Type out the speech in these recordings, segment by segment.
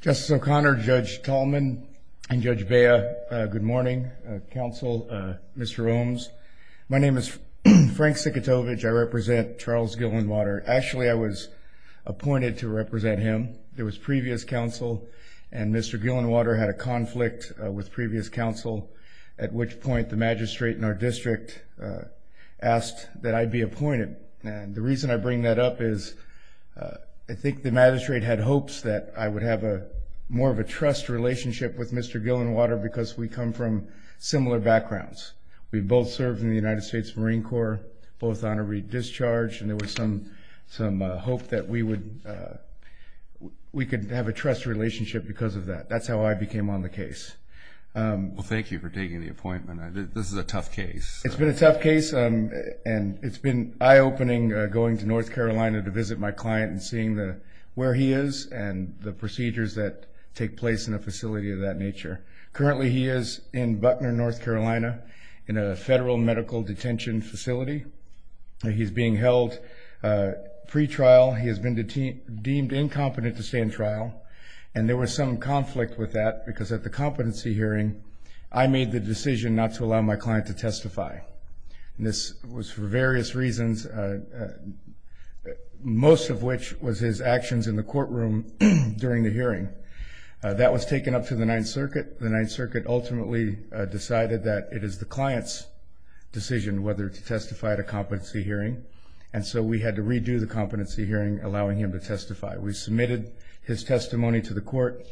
Justice O'Connor, Judge Tallman, and Judge Bea, good morning, counsel, Mr. Oams. My name is Frank Sikitovich. I represent Charles Gillenwater. Actually, I was appointed to represent him. There was previous counsel, and Mr. Gillenwater had a conflict with previous counsel, at which point the magistrate in our district asked that I be appointed. And the reason I bring that up is I think the magistrate had hopes that I would have more of a trust relationship with Mr. Gillenwater because we come from similar backgrounds. We both served in the United States Marine Corps, both on a re-discharge, and there was some hope that we could have a trust relationship because of that. That's how I became on the case. Well, thank you for taking the appointment. This is a tough case. It's been a tough case, and it's been eye-opening going to North Carolina to visit my client and seeing where he is and the procedures that take place in a facility of that nature. Currently, he is in Buckner, North Carolina, in a federal medical detention facility. He's being held pretrial. He has been deemed incompetent to stay in trial, and there was some conflict with that because at the competency hearing, I made the decision not to allow my client to testify, and this was for various reasons, most of which was his actions in the courtroom during the hearing. That was taken up to the Ninth Circuit. The Ninth Circuit ultimately decided that it is the client's decision whether to testify at a competency hearing, and so we had to redo the competency hearing, allowing him to testify. We submitted his testimony to the court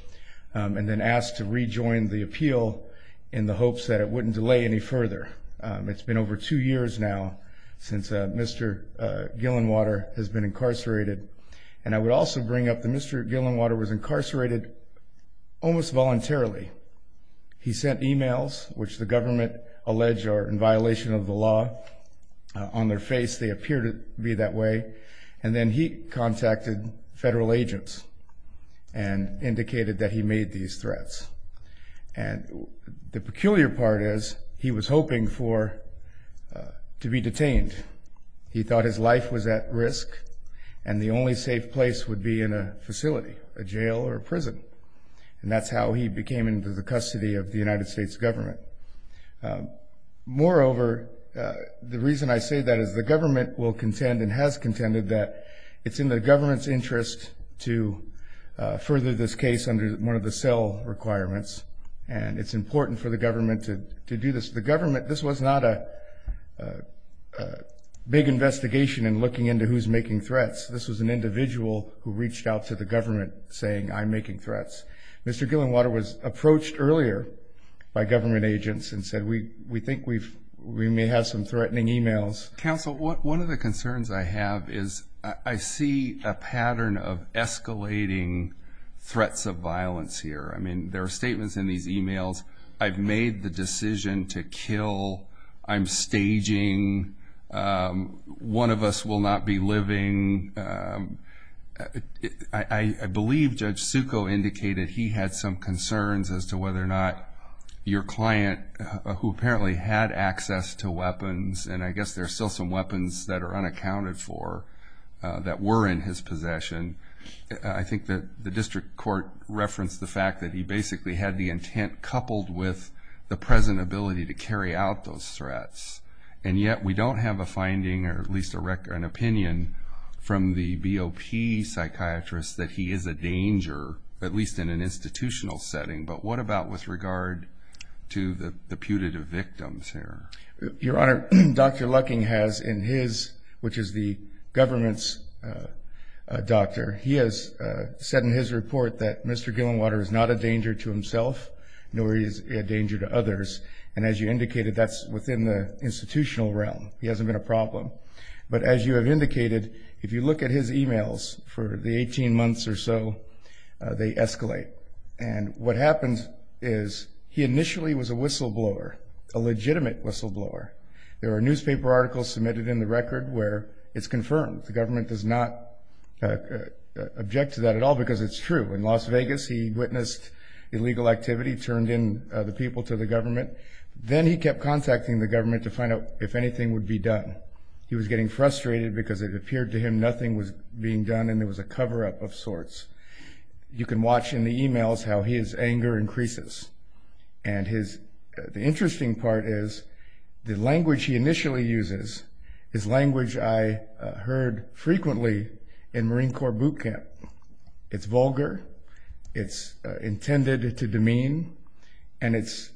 and then asked to rejoin the appeal in the hopes that it wouldn't delay any further. It's been over two years now since Mr. Gillenwater has been incarcerated, and I would also bring up that Mr. Gillenwater was incarcerated almost voluntarily. He sent emails, which the government alleged are in violation of the law. On their face, they appear to be that way, and then he contacted federal agents and indicated that he made these threats. The peculiar part is he was hoping to be detained. He thought his life was at risk, and the only safe place would be in a facility, a jail or a prison, and that's how he became into the custody of the United States government. Moreover, the reason I say that is the government will contend and has contended that it's in the government's interest to further this case under one of the cell requirements, and it's important for the government to do this. This was not a big investigation in looking into who's making threats. This was an individual who reached out to the government saying, I'm making threats. Mr. Gillenwater was approached earlier by government agents and said, we think we may have some threatening emails. Counsel, one of the concerns I have is I see a pattern of escalating threats of violence here. I mean, there are statements in these emails, I've made the decision to kill, I'm staging, one of us will not be living. I believe Judge Succo indicated he had some concerns as to whether or not your client, who apparently had access to weapons, and I guess there are still some weapons that are unaccounted for, that were in his possession. I think that the district court referenced the fact that he basically had the intent coupled with the present ability to carry out those threats, and yet we don't have a finding, or at least an opinion, from the BOP psychiatrist that he is a danger, at least in an institutional setting. But what about with regard to the putative victims here? Your Honor, Dr. Lucking has in his, which is the government's doctor, he has said in his report that Mr. Gillenwater is not a danger to himself, nor is he a danger to others. And as you indicated, that's within the institutional realm. He hasn't been a problem. But as you have indicated, if you look at his emails for the 18 months or so, they escalate. And what happens is he initially was a whistleblower, a legitimate whistleblower. There are newspaper articles submitted in the record where it's confirmed. The government does not object to that at all because it's true. In Las Vegas, he witnessed illegal activity, turned in the people to the government. Then he kept contacting the government to find out if anything would be done. He was getting frustrated because it appeared to him nothing was being done and it was a cover-up of sorts. You can watch in the emails how his anger increases. And the interesting part is the language he initially uses is language I heard frequently in Marine Corps boot camp. It's vulgar. It's intended to demean. And it's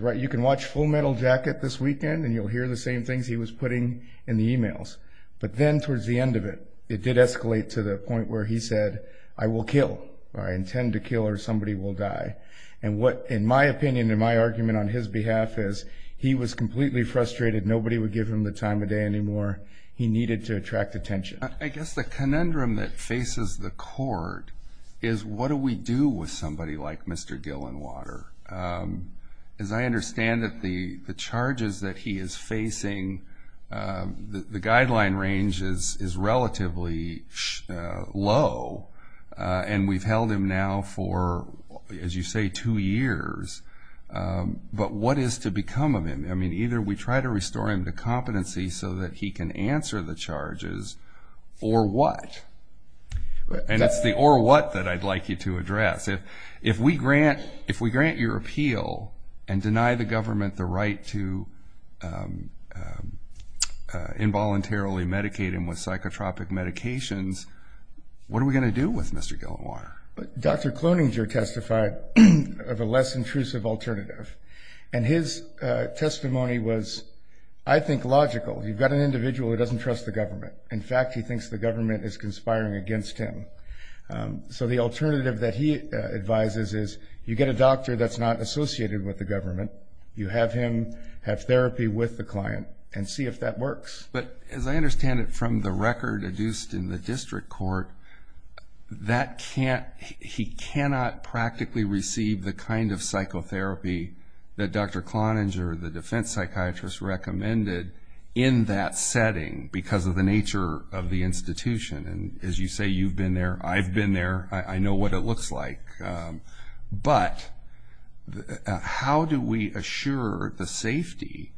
right. You can watch Full Metal Jacket this weekend and you'll hear the same things he was putting in the emails. But then towards the end of it, it did escalate to the point where he said, I will kill or I intend to kill or somebody will die. And what, in my opinion, in my argument on his behalf, is he was completely frustrated. Nobody would give him the time of day anymore. He needed to attract attention. I guess the conundrum that faces the court is what do we do with somebody like Mr. Gillenwater? As I understand it, the charges that he is facing, the guideline range is relatively low, and we've held him now for, as you say, two years. But what is to become of him? I mean, either we try to restore him to competency so that he can answer the charges or what? And it's the or what that I'd like you to address. If we grant your appeal and deny the government the right to involuntarily medicate him with psychotropic medications, what are we going to do with Mr. Gillenwater? Dr. Cloninger testified of a less intrusive alternative. And his testimony was, I think, logical. You've got an individual who doesn't trust the government. In fact, he thinks the government is conspiring against him. So the alternative that he advises is you get a doctor that's not associated with the government. You have him have therapy with the client and see if that works. But as I understand it from the record adduced in the district court, he cannot practically receive the kind of psychotherapy that Dr. Cloninger, the defense psychiatrist, recommended in that setting because of the nature of the institution. And as you say, you've been there. I've been there. I know what it looks like. But how do we assure the safety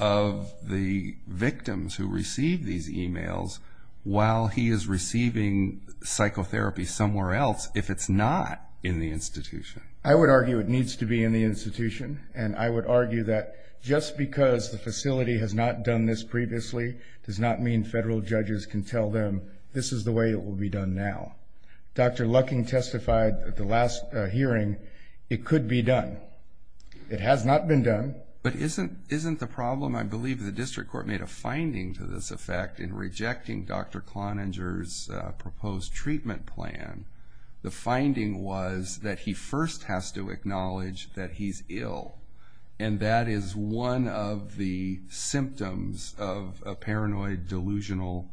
of the victims who receive these e-mails while he is receiving psychotherapy somewhere else if it's not in the institution? I would argue it needs to be in the institution. And I would argue that just because the facility has not done this previously does not mean federal judges can tell them this is the way it will be done now. Dr. Lucking testified at the last hearing it could be done. It has not been done. But isn't the problem, I believe the district court made a finding to this effect in rejecting Dr. Cloninger's proposed treatment plan. The finding was that he first has to acknowledge that he's ill, and that is one of the symptoms of a paranoid delusional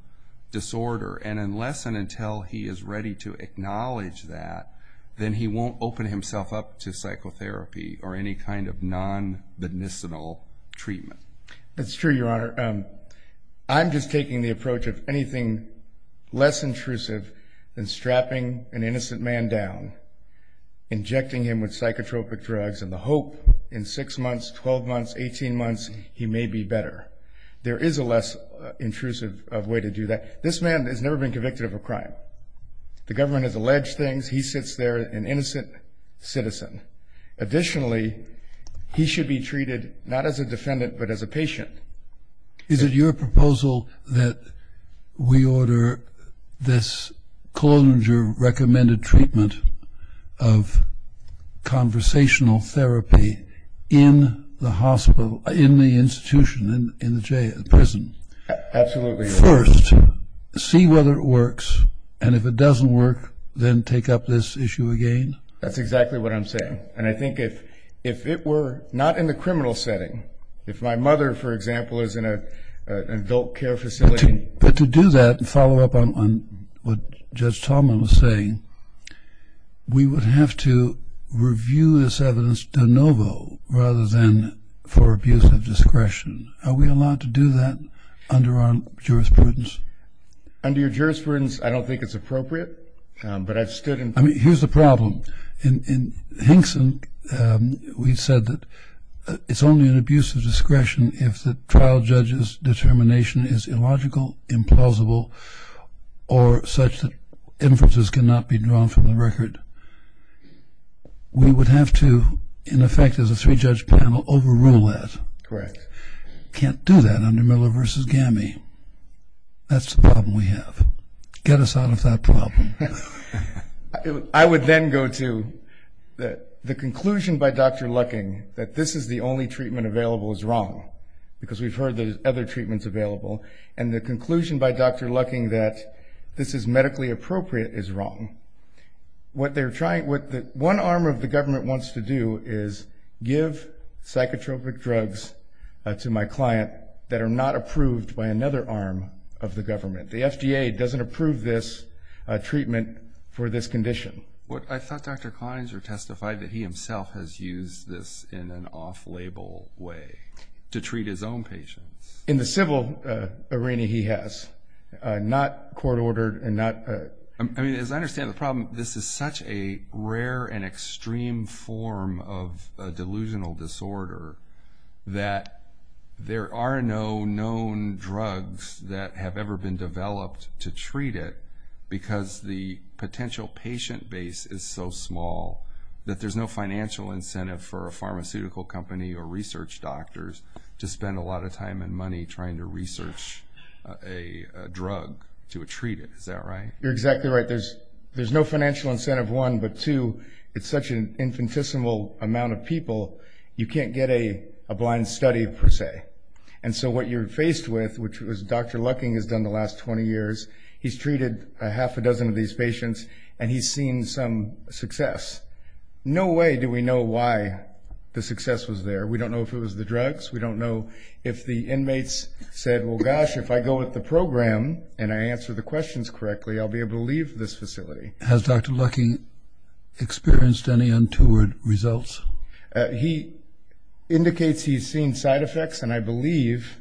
disorder. And unless and until he is ready to acknowledge that, then he won't open himself up to psychotherapy or any kind of non-medicinal treatment. That's true, Your Honor. I'm just taking the approach of anything less intrusive than strapping an innocent man down, injecting him with psychotropic drugs, and the hope in 6 months, 12 months, 18 months he may be better. There is a less intrusive way to do that. This man has never been convicted of a crime. The government has alleged things. He sits there, an innocent citizen. Additionally, he should be treated not as a defendant but as a patient. Is it your proposal that we order this Cloninger recommended treatment of conversational therapy in the institution, in the prison? Absolutely. First, see whether it works, and if it doesn't work, then take up this issue again? That's exactly what I'm saying. And I think if it were not in the criminal setting, if my mother, for example, is in an adult care facility. But to do that and follow up on what Judge Tallman was saying, we would have to review this evidence de novo rather than for abuse of discretion. Are we allowed to do that under our jurisprudence? Under your jurisprudence, I don't think it's appropriate, but I've stood in front of it. Here's the problem. In Hinkson, we said that it's only an abuse of discretion if the trial judge's determination is illogical, implausible, or such that inferences cannot be drawn from the record. We would have to, in effect, as a three-judge panel, overrule that. Correct. Can't do that under Miller v. Gammie. That's the problem we have. Get us out of that problem. I would then go to the conclusion by Dr. Lucking that this is the only treatment available is wrong, because we've heard there's other treatments available, and the conclusion by Dr. Lucking that this is medically appropriate is wrong. What one arm of the government wants to do is give psychotropic drugs to my client that are not approved by another arm of the government. The FDA doesn't approve this treatment for this condition. I thought Dr. Klineser testified that he himself has used this in an off-label way to treat his own patients. In the civil arena, he has. Not court-ordered. As I understand the problem, this is such a rare and extreme form of delusional disorder that there are no known drugs that have ever been developed to treat it because the potential patient base is so small that there's no financial incentive for a pharmaceutical company or research doctors to spend a lot of time and money trying to research a drug to treat it. Is that right? You're exactly right. There's no financial incentive, one, but two, it's such an infinitesimal amount of people, you can't get a blind study, per se. And so what you're faced with, which Dr. Lucking has done the last 20 years, he's treated a half a dozen of these patients, and he's seen some success. No way do we know why the success was there. We don't know if it was the drugs. We don't know if the inmates said, well, gosh, if I go with the program and I answer the questions correctly, I'll be able to leave this facility. Has Dr. Lucking experienced any untoward results? He indicates he's seen side effects, and I believe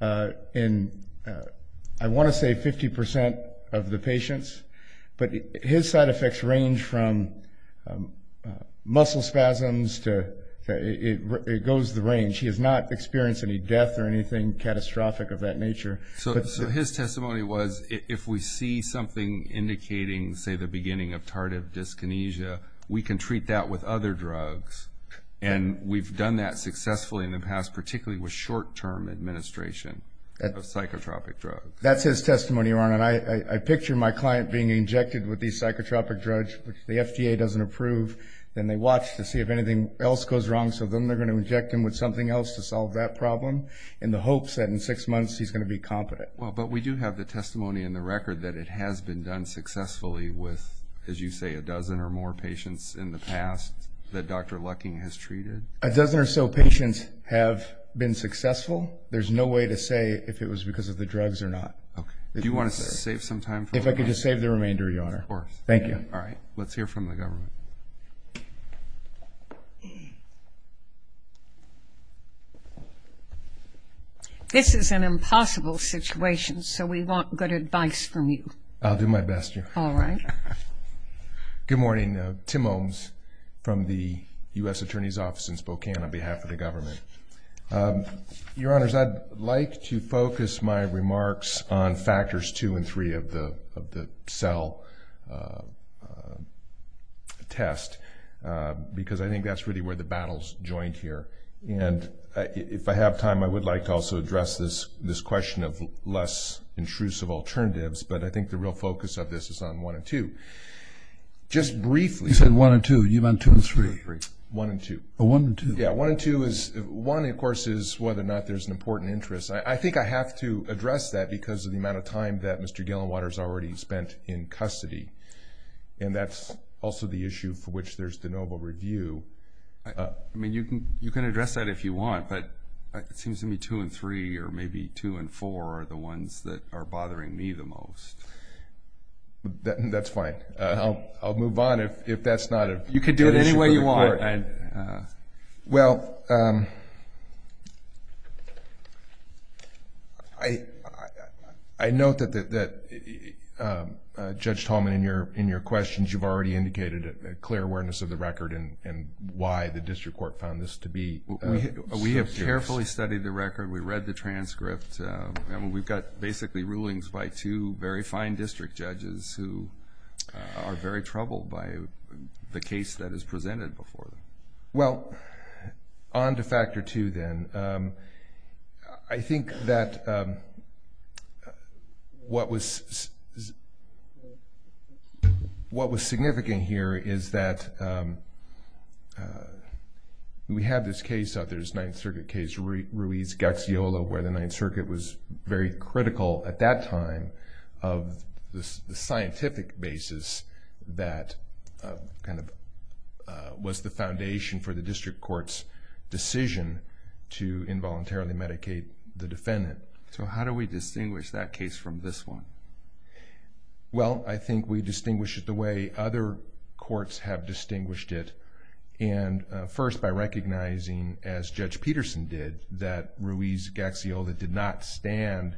in, I want to say, 50% of the patients, but his side effects range from muscle spasms to it goes the range. He has not experienced any death or anything catastrophic of that nature. So his testimony was if we see something indicating, say, the beginning of tardive dyskinesia, we can treat that with other drugs, and we've done that successfully in the past, particularly with short-term administration of psychotropic drugs. That's his testimony, Ron, and I picture my client being injected with these psychotropic drugs, which the FDA doesn't approve, and they watch to see if anything else goes wrong, so then they're going to inject him with something else to solve that problem in the hopes that in six months he's going to be competent. But we do have the testimony in the record that it has been done successfully with, as you say, a dozen or more patients in the past that Dr. Lucking has treated. A dozen or so patients have been successful. There's no way to say if it was because of the drugs or not. Okay. Do you want to save some time? If I could just save the remainder, Your Honor. Of course. Thank you. All right. Let's hear from the government. This is an impossible situation, so we want good advice from you. I'll do my best, Your Honor. All right. Good morning. Tim Ohms from the U.S. Attorney's Office in Spokane on behalf of the government. Your Honors, I'd like to focus my remarks on factors two and three of the cell test because I think that's really where the battle's joined here. And if I have time, I would like to also address this question of less intrusive alternatives, but I think the real focus of this is on one and two. Just briefly. You said one and two. One and two. One and two. Yeah, one and two. One, of course, is whether or not there's an important interest. I think I have to address that because of the amount of time that Mr. Gillenwater's already spent in custody, and that's also the issue for which there's the noble review. I mean, you can address that if you want, but it seems to me two and three or maybe two and four are the ones that are bothering me the most. That's fine. I'll move on if that's not an issue. Well, I note that, Judge Tallman, in your questions, you've already indicated a clear awareness of the record and why the district court found this to be so serious. We have carefully studied the record. We read the transcript, and we've got basically rulings by two very fine district judges who are very troubled by the case that is presented before them. Well, on to factor two then. I think that what was significant here is that we had this case out there, this Ninth Circuit case, Ruiz-Gaxiola, where the Ninth Circuit was very critical at that time of the scientific basis that kind of was the foundation for the district court's decision to involuntarily medicate the defendant. So how do we distinguish that case from this one? Well, I think we distinguish it the way other courts have distinguished it, and first by recognizing, as Judge Peterson did, that Ruiz-Gaxiola did not stand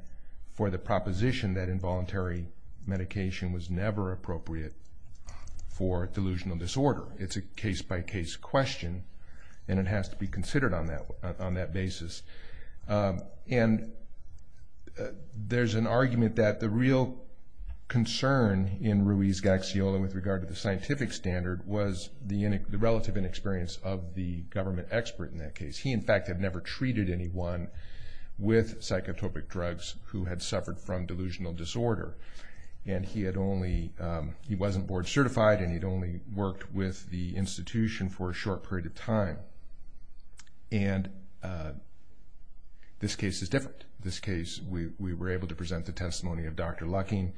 for the proposition that involuntary medication was never appropriate for delusional disorder. It's a case-by-case question, and it has to be considered on that basis. And there's an argument that the real concern in Ruiz-Gaxiola with regard to the scientific standard was the relative inexperience of the government expert in that case. He, in fact, had never treated anyone with psychotropic drugs who had suffered from delusional disorder. And he wasn't board certified, and he'd only worked with the institution for a short period of time. And this case is different. In this case, we were able to present the testimony of Dr. Lucking,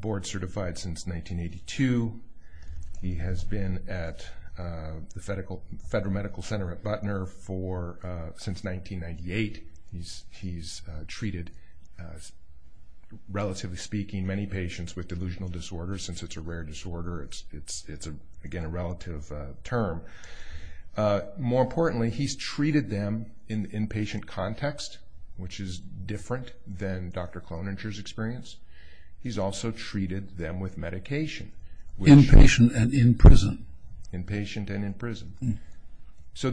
board certified since 1982. He has been at the Federal Medical Center at Butner since 1998. He's treated, relatively speaking, many patients with delusional disorder. Since it's a rare disorder, it's, again, a relative term. More importantly, he's treated them in the inpatient context, which is different than Dr. Cloninger's experience. He's also treated them with medication. Inpatient and in prison. Inpatient and in prison. So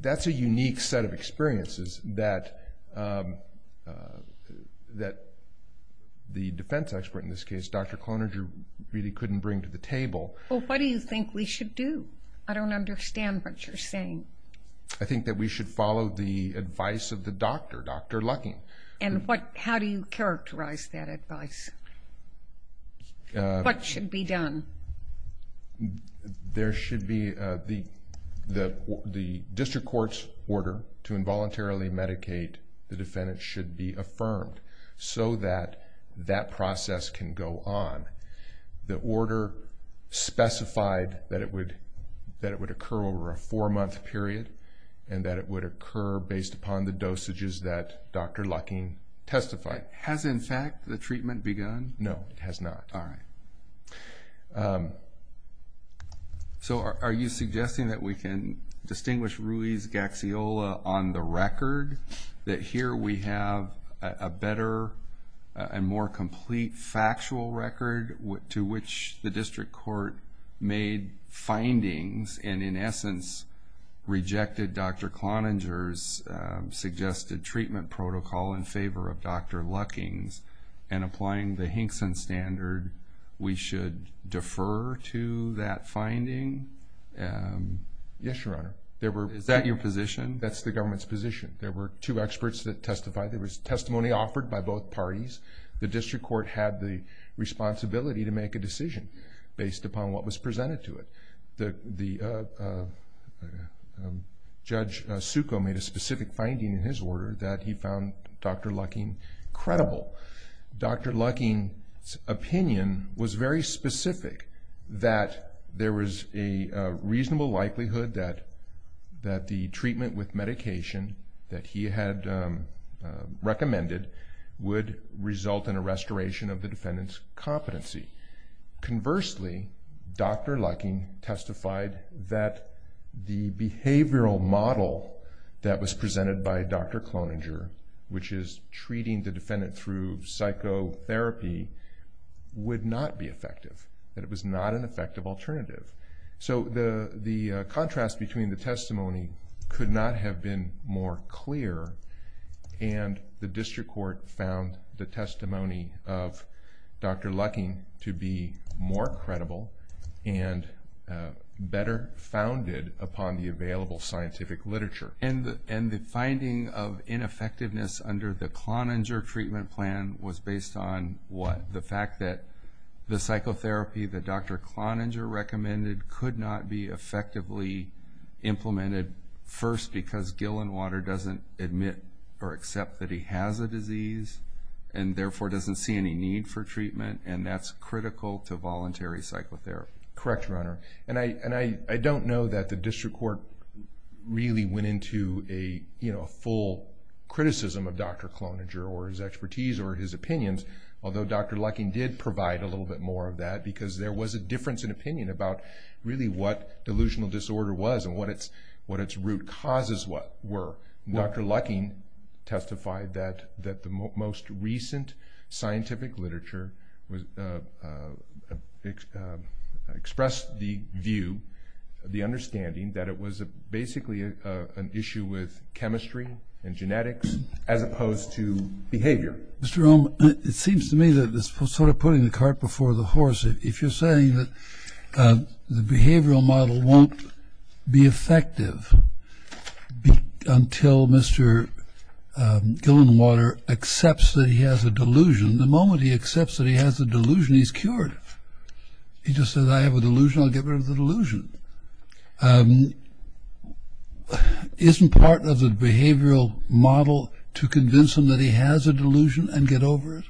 that's a unique set of experiences that the defense expert in this case, Dr. Cloninger, really couldn't bring to the table. Well, what do you think we should do? I don't understand what you're saying. I think that we should follow the advice of the doctor, Dr. Lucking. And how do you characterize that advice? What should be done? There should be the district court's order to involuntarily medicate the defendant should be affirmed so that that process can go on. The order specified that it would occur over a four-month period and that it would occur based upon the dosages that Dr. Lucking testified. Has, in fact, the treatment begun? No, it has not. All right. So are you suggesting that we can distinguish Ruiz-Gaxiola on the record, that here we have a better and more complete factual record to which the district court made findings and in essence rejected Dr. Cloninger's suggested treatment protocol in favor of Dr. Lucking's and applying the Hinkson standard, we should defer to that finding? Yes, Your Honor. Is that your position? That's the government's position. There were two experts that testified. There was testimony offered by both parties. The district court had the responsibility to make a decision based upon what was presented to it. Judge Succo made a specific finding in his order that he found Dr. Lucking credible. Dr. Lucking's opinion was very specific that there was a reasonable likelihood that the treatment with medication that he had recommended would result in a restoration of the defendant's competency. Conversely, Dr. Lucking testified that the behavioral model that was presented by Dr. Cloninger, which is treating the defendant through psychotherapy, would not be effective, that it was not an effective alternative. So the contrast between the testimony could not have been more clear, and the district court found the testimony of Dr. Lucking to be more credible and better founded upon the available scientific literature. And the finding of ineffectiveness under the Cloninger treatment plan was based on what? The fact that the psychotherapy that Dr. Cloninger recommended could not be effectively implemented, first because Gillenwater doesn't admit or accept that he has a disease and therefore doesn't see any need for treatment, and that's critical to voluntary psychotherapy. Correct, Your Honor. And I don't know that the district court really went into a full criticism of Dr. Cloninger or his expertise or his opinions, although Dr. Lucking did provide a little bit more of that because there was a difference in opinion about really what delusional disorder was and what its root causes were. Dr. Lucking testified that the most recent scientific literature expressed the view, the understanding, that it was basically an issue with chemistry and genetics as opposed to behavior. Mr. Rome, it seems to me that it's sort of putting the cart before the horse. If you're saying that the behavioral model won't be effective until Mr. Gillenwater accepts that he has a delusion, the moment he accepts that he has a delusion, he's cured. He just says, I have a delusion, I'll get rid of the delusion. Isn't part of the behavioral model to convince him that he has a delusion and get over it?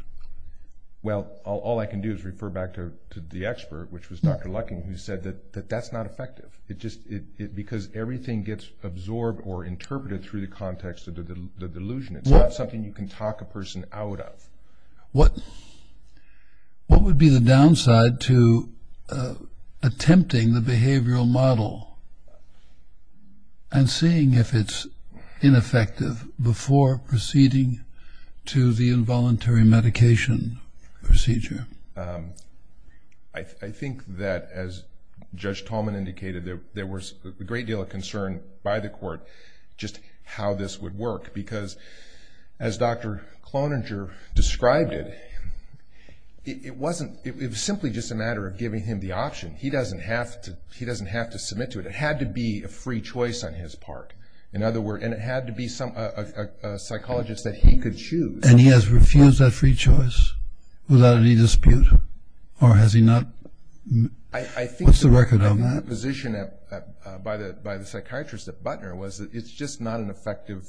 Well, all I can do is refer back to the expert, which was Dr. Lucking, who said that that's not effective because everything gets absorbed or interpreted through the context of the delusion. It's not something you can talk a person out of. What would be the downside to attempting the behavioral model and seeing if it's ineffective before proceeding to the involuntary medication procedure? I think that, as Judge Tallman indicated, there was a great deal of concern by the court just how this would work because, as Dr. Cloninger described it, it was simply just a matter of giving him the option. He doesn't have to submit to it. It had to be a free choice on his part. And it had to be a psychologist that he could choose. And he has refused that free choice without any dispute? Or has he not? What's the record on that? I think the position by the psychiatrist at Butner was that it's just not an effective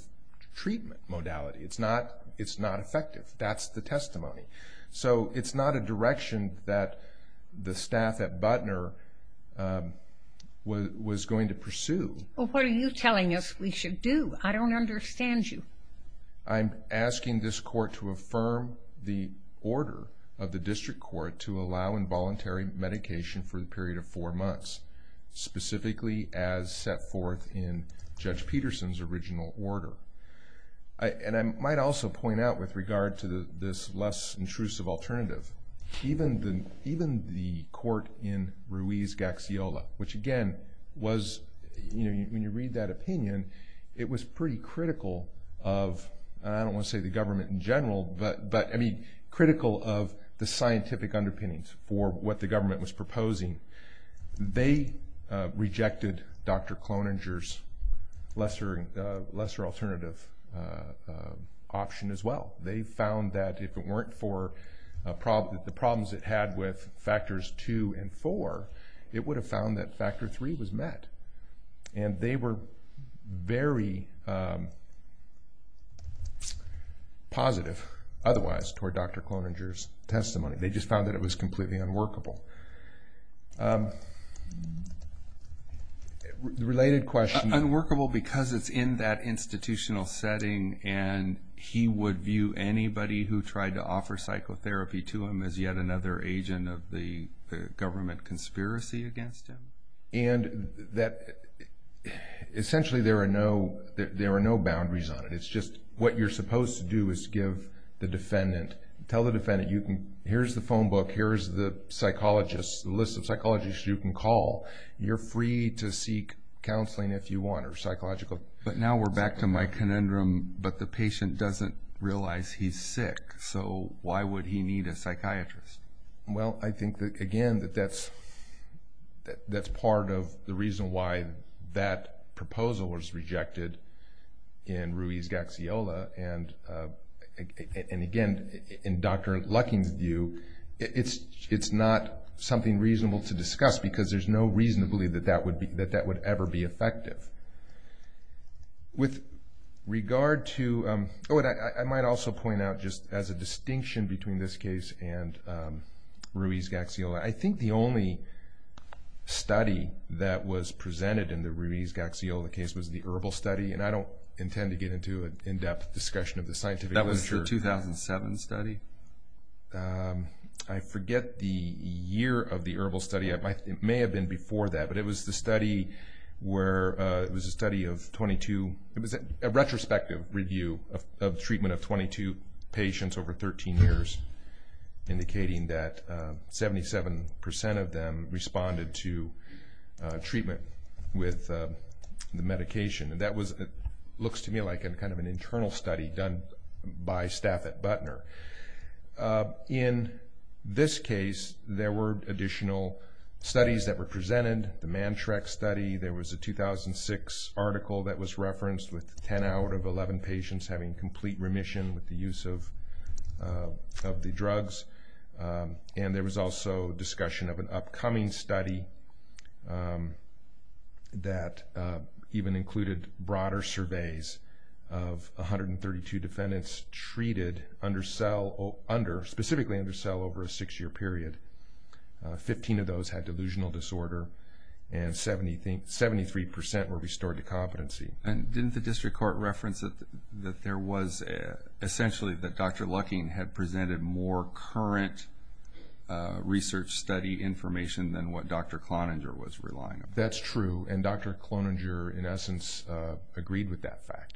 treatment modality. It's not effective. That's the testimony. So it's not a direction that the staff at Butner was going to pursue. Well, what are you telling us we should do? I don't understand you. I'm asking this court to affirm the order of the district court to allow involuntary medication for a period of four months, specifically as set forth in Judge Peterson's original order. And I might also point out with regard to this less intrusive alternative, even the court in Ruiz-Gaxiola, which again was, when you read that opinion, it was pretty critical of, I don't want to say the government in general, but critical of the scientific underpinnings for what the government was proposing. They rejected Dr. Cloninger's lesser alternative option as well. They found that if it weren't for the problems it had with factors 2 and 4, it would have found that factor 3 was met. And they were very positive otherwise toward Dr. Cloninger's testimony. They just found that it was completely unworkable. Related question. Unworkable because it's in that institutional setting and he would view anybody who tried to offer psychotherapy to him as yet another agent of the government conspiracy against him? Essentially, there are no boundaries on it. It's just what you're supposed to do is give the defendant, tell the defendant, here's the phone book, here's the list of psychologists you can call. You're free to seek counseling if you want or psychological counseling. But now we're back to my conundrum, but the patient doesn't realize he's sick, so why would he need a psychiatrist? I think, again, that that's part of the reason why that proposal was rejected in Ruiz-Gaxiola. And, again, in Dr. Lucking's view, it's not something reasonable to discuss because there's no reason to believe that that would ever be effective. With regard to what I might also point out just as a distinction between this case and Ruiz-Gaxiola, I think the only study that was presented in the Ruiz-Gaxiola case was the ERBL study, and I don't intend to get into an in-depth discussion of the scientific literature. That was the 2007 study? I forget the year of the ERBL study. It may have been before that, but it was the study where it was a study of 22. It was a retrospective review of treatment of 22 patients over 13 years, indicating that 77% of them responded to treatment with the medication. That looks to me like kind of an internal study done by staff at Butner. In this case, there were additional studies that were presented, the Mantrax study. There was a 2006 article that was referenced with 10 out of 11 patients having complete remission with the use of the drugs, and there was also discussion of an upcoming study that even included broader surveys of 132 defendants treated specifically under cell over a six-year period. Fifteen of those had delusional disorder, and 73% were restored to competency. Didn't the district court reference that there was essentially that Dr. Lucking had presented more current research study information than what Dr. Cloninger was relying on? That's true, and Dr. Cloninger, in essence, agreed with that fact.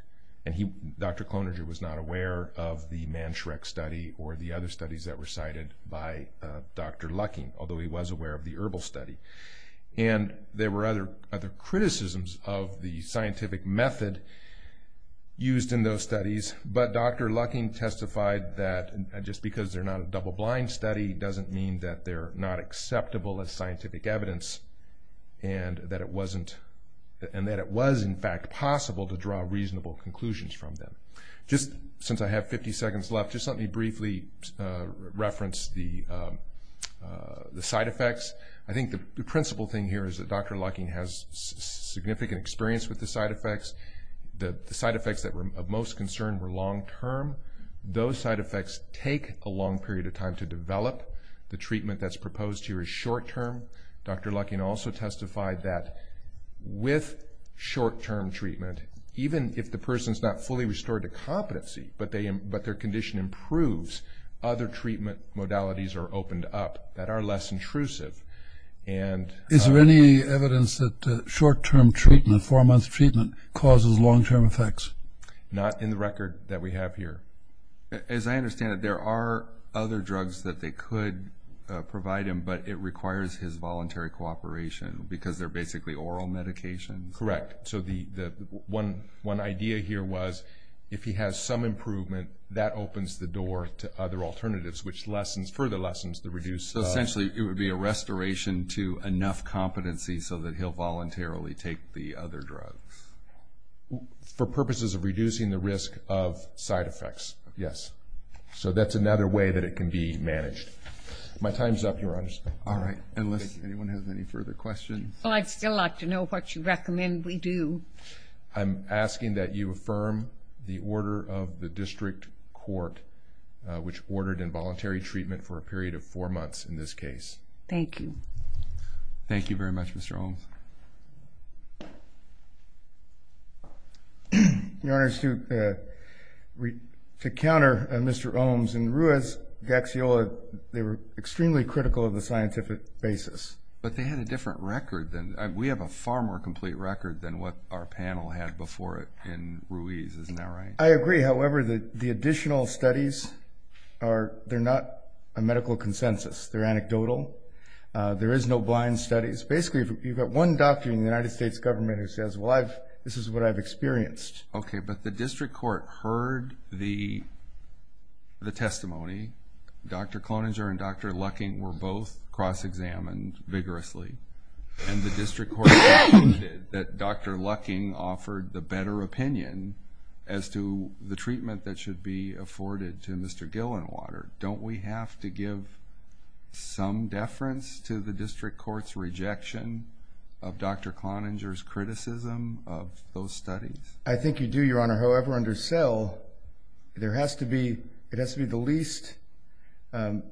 Dr. Cloninger was not aware of the Mantrax study or the other studies that were cited by Dr. Lucking, although he was aware of the ERBL study. And there were other criticisms of the scientific method used in those studies, but Dr. Lucking testified that just because they're not a double-blind study doesn't mean that they're not acceptable as scientific evidence and that it was, in fact, possible to draw reasonable conclusions from them. Just since I have 50 seconds left, just let me briefly reference the side effects. I think the principal thing here is that Dr. Lucking has significant experience with the side effects. The side effects that were of most concern were long-term. Those side effects take a long period of time to develop. The treatment that's proposed here is short-term. Dr. Lucking also testified that with short-term treatment, even if the person's not fully restored to competency but their condition improves, other treatment modalities are opened up that are less intrusive. Is there any evidence that short-term treatment, four-month treatment, causes long-term effects? Not in the record that we have here. As I understand it, there are other drugs that they could provide him, but it requires his voluntary cooperation because they're basically oral medications. Correct. One idea here was if he has some improvement, that opens the door to other alternatives, which further lessens the reduced... So essentially it would be a restoration to enough competency so that he'll voluntarily take the other drug. For purposes of reducing the risk of side effects, yes. So that's another way that it can be managed. My time's up, Your Honor. All right, unless anyone has any further questions. Well, I'd still like to know what you recommend we do. I'm asking that you affirm the order of the district court, which ordered involuntary treatment for a period of four months in this case. Thank you. Thank you very much, Mr. Olmes. Your Honor, to counter Mr. Olmes and Ruiz-Gaxiola, they were extremely critical of the scientific basis. But they had a different record. We have a far more complete record than what our panel had before it in Ruiz, isn't that right? I agree. However, the additional studies, they're not a medical consensus. They're anecdotal. There is no blind studies. Basically, you've got one doctor in the United States government who says, well, this is what I've experienced. Okay, but the district court heard the testimony. Dr. Cloninger and Dr. Lucking were both cross-examined vigorously. And the district court concluded that Dr. Lucking offered the better opinion as to the treatment that should be afforded to Mr. Gillenwater. Don't we have to give some deference to the district court's rejection of Dr. Cloninger's criticism of those studies? I think you do, Your Honor. However, under SELL, it has to be the least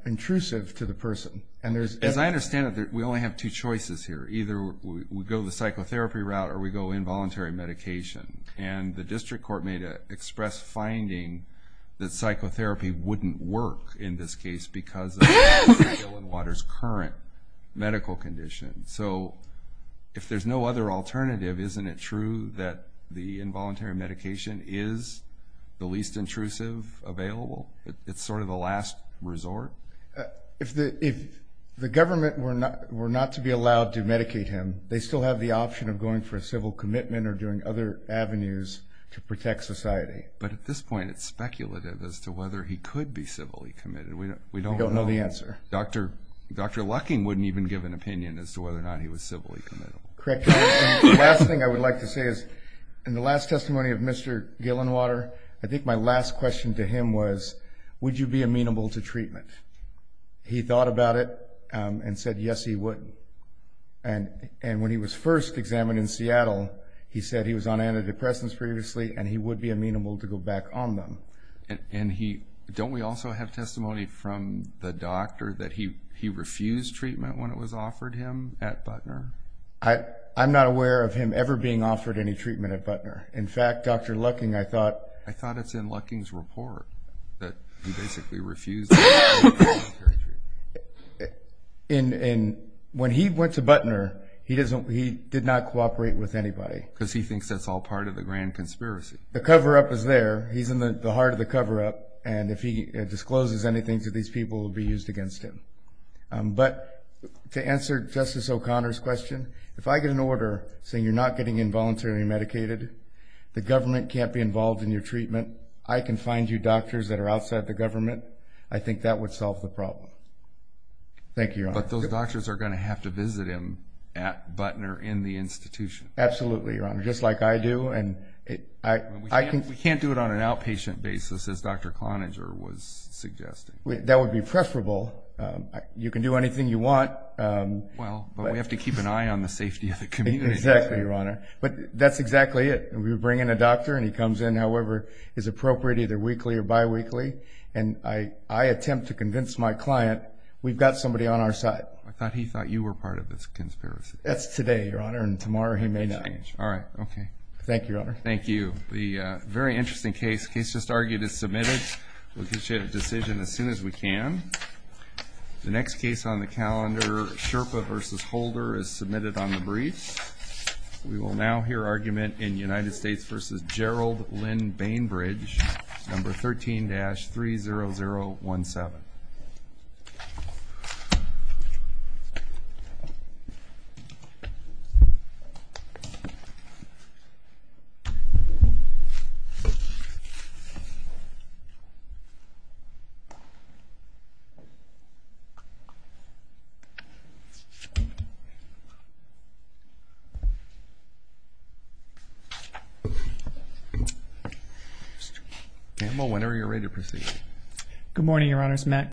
intrusive to the person. As I understand it, we only have two choices here. Either we go the psychotherapy route or we go involuntary medication. And the district court made an express finding that psychotherapy wouldn't work in this case because of Dr. Gillenwater's current medical condition. So if there's no other alternative, isn't it true that the involuntary medication is the least intrusive available? It's sort of the last resort? If the government were not to be allowed to medicate him, they still have the option of going for a civil commitment or doing other avenues to protect society. But at this point, it's speculative as to whether he could be civilly committed. We don't know. We don't know the answer. Dr. Lucking wouldn't even give an opinion as to whether or not he was civilly committable. Correct. The last thing I would like to say is, in the last testimony of Mr. Gillenwater, I think my last question to him was, would you be amenable to treatment? He thought about it and said, yes, he would. And when he was first examined in Seattle, he said he was on antidepressants previously and he would be amenable to go back on them. Don't we also have testimony from the doctor that he refused treatment when it was offered him at Butner? I'm not aware of him ever being offered any treatment at Butner. In fact, Dr. Lucking, I thought— I thought it's in Lucking's report that he basically refused treatment. When he went to Butner, he did not cooperate with anybody. Because he thinks that's all part of the grand conspiracy. The cover-up is there. He's in the heart of the cover-up. And if he discloses anything to these people, it will be used against him. But to answer Justice O'Connor's question, if I get an order saying you're not getting involuntarily medicated, the government can't be involved in your treatment, I can find you doctors that are outside the government, I think that would solve the problem. Thank you, Your Honor. But those doctors are going to have to visit him at Butner in the institution. Absolutely, Your Honor, just like I do. We can't do it on an outpatient basis, as Dr. Cloninger was suggesting. That would be preferable. You can do anything you want. Well, but we have to keep an eye on the safety of the community. Exactly, Your Honor. But that's exactly it. We bring in a doctor, and he comes in however is appropriate, either weekly or biweekly. And I attempt to convince my client we've got somebody on our side. I thought he thought you were part of this conspiracy. That's today, Your Honor, and tomorrow he may not. All right, okay. Thank you, Your Honor. Thank you. A very interesting case. The case just argued is submitted. We'll get you a decision as soon as we can. The next case on the calendar, Sherpa v. Holder, is submitted on the brief. We will now hear argument in United States v. Gerald Lynn Bainbridge, number 13-30017. Mr. Campbell, whenever you're ready to proceed. Good morning, Your Honors.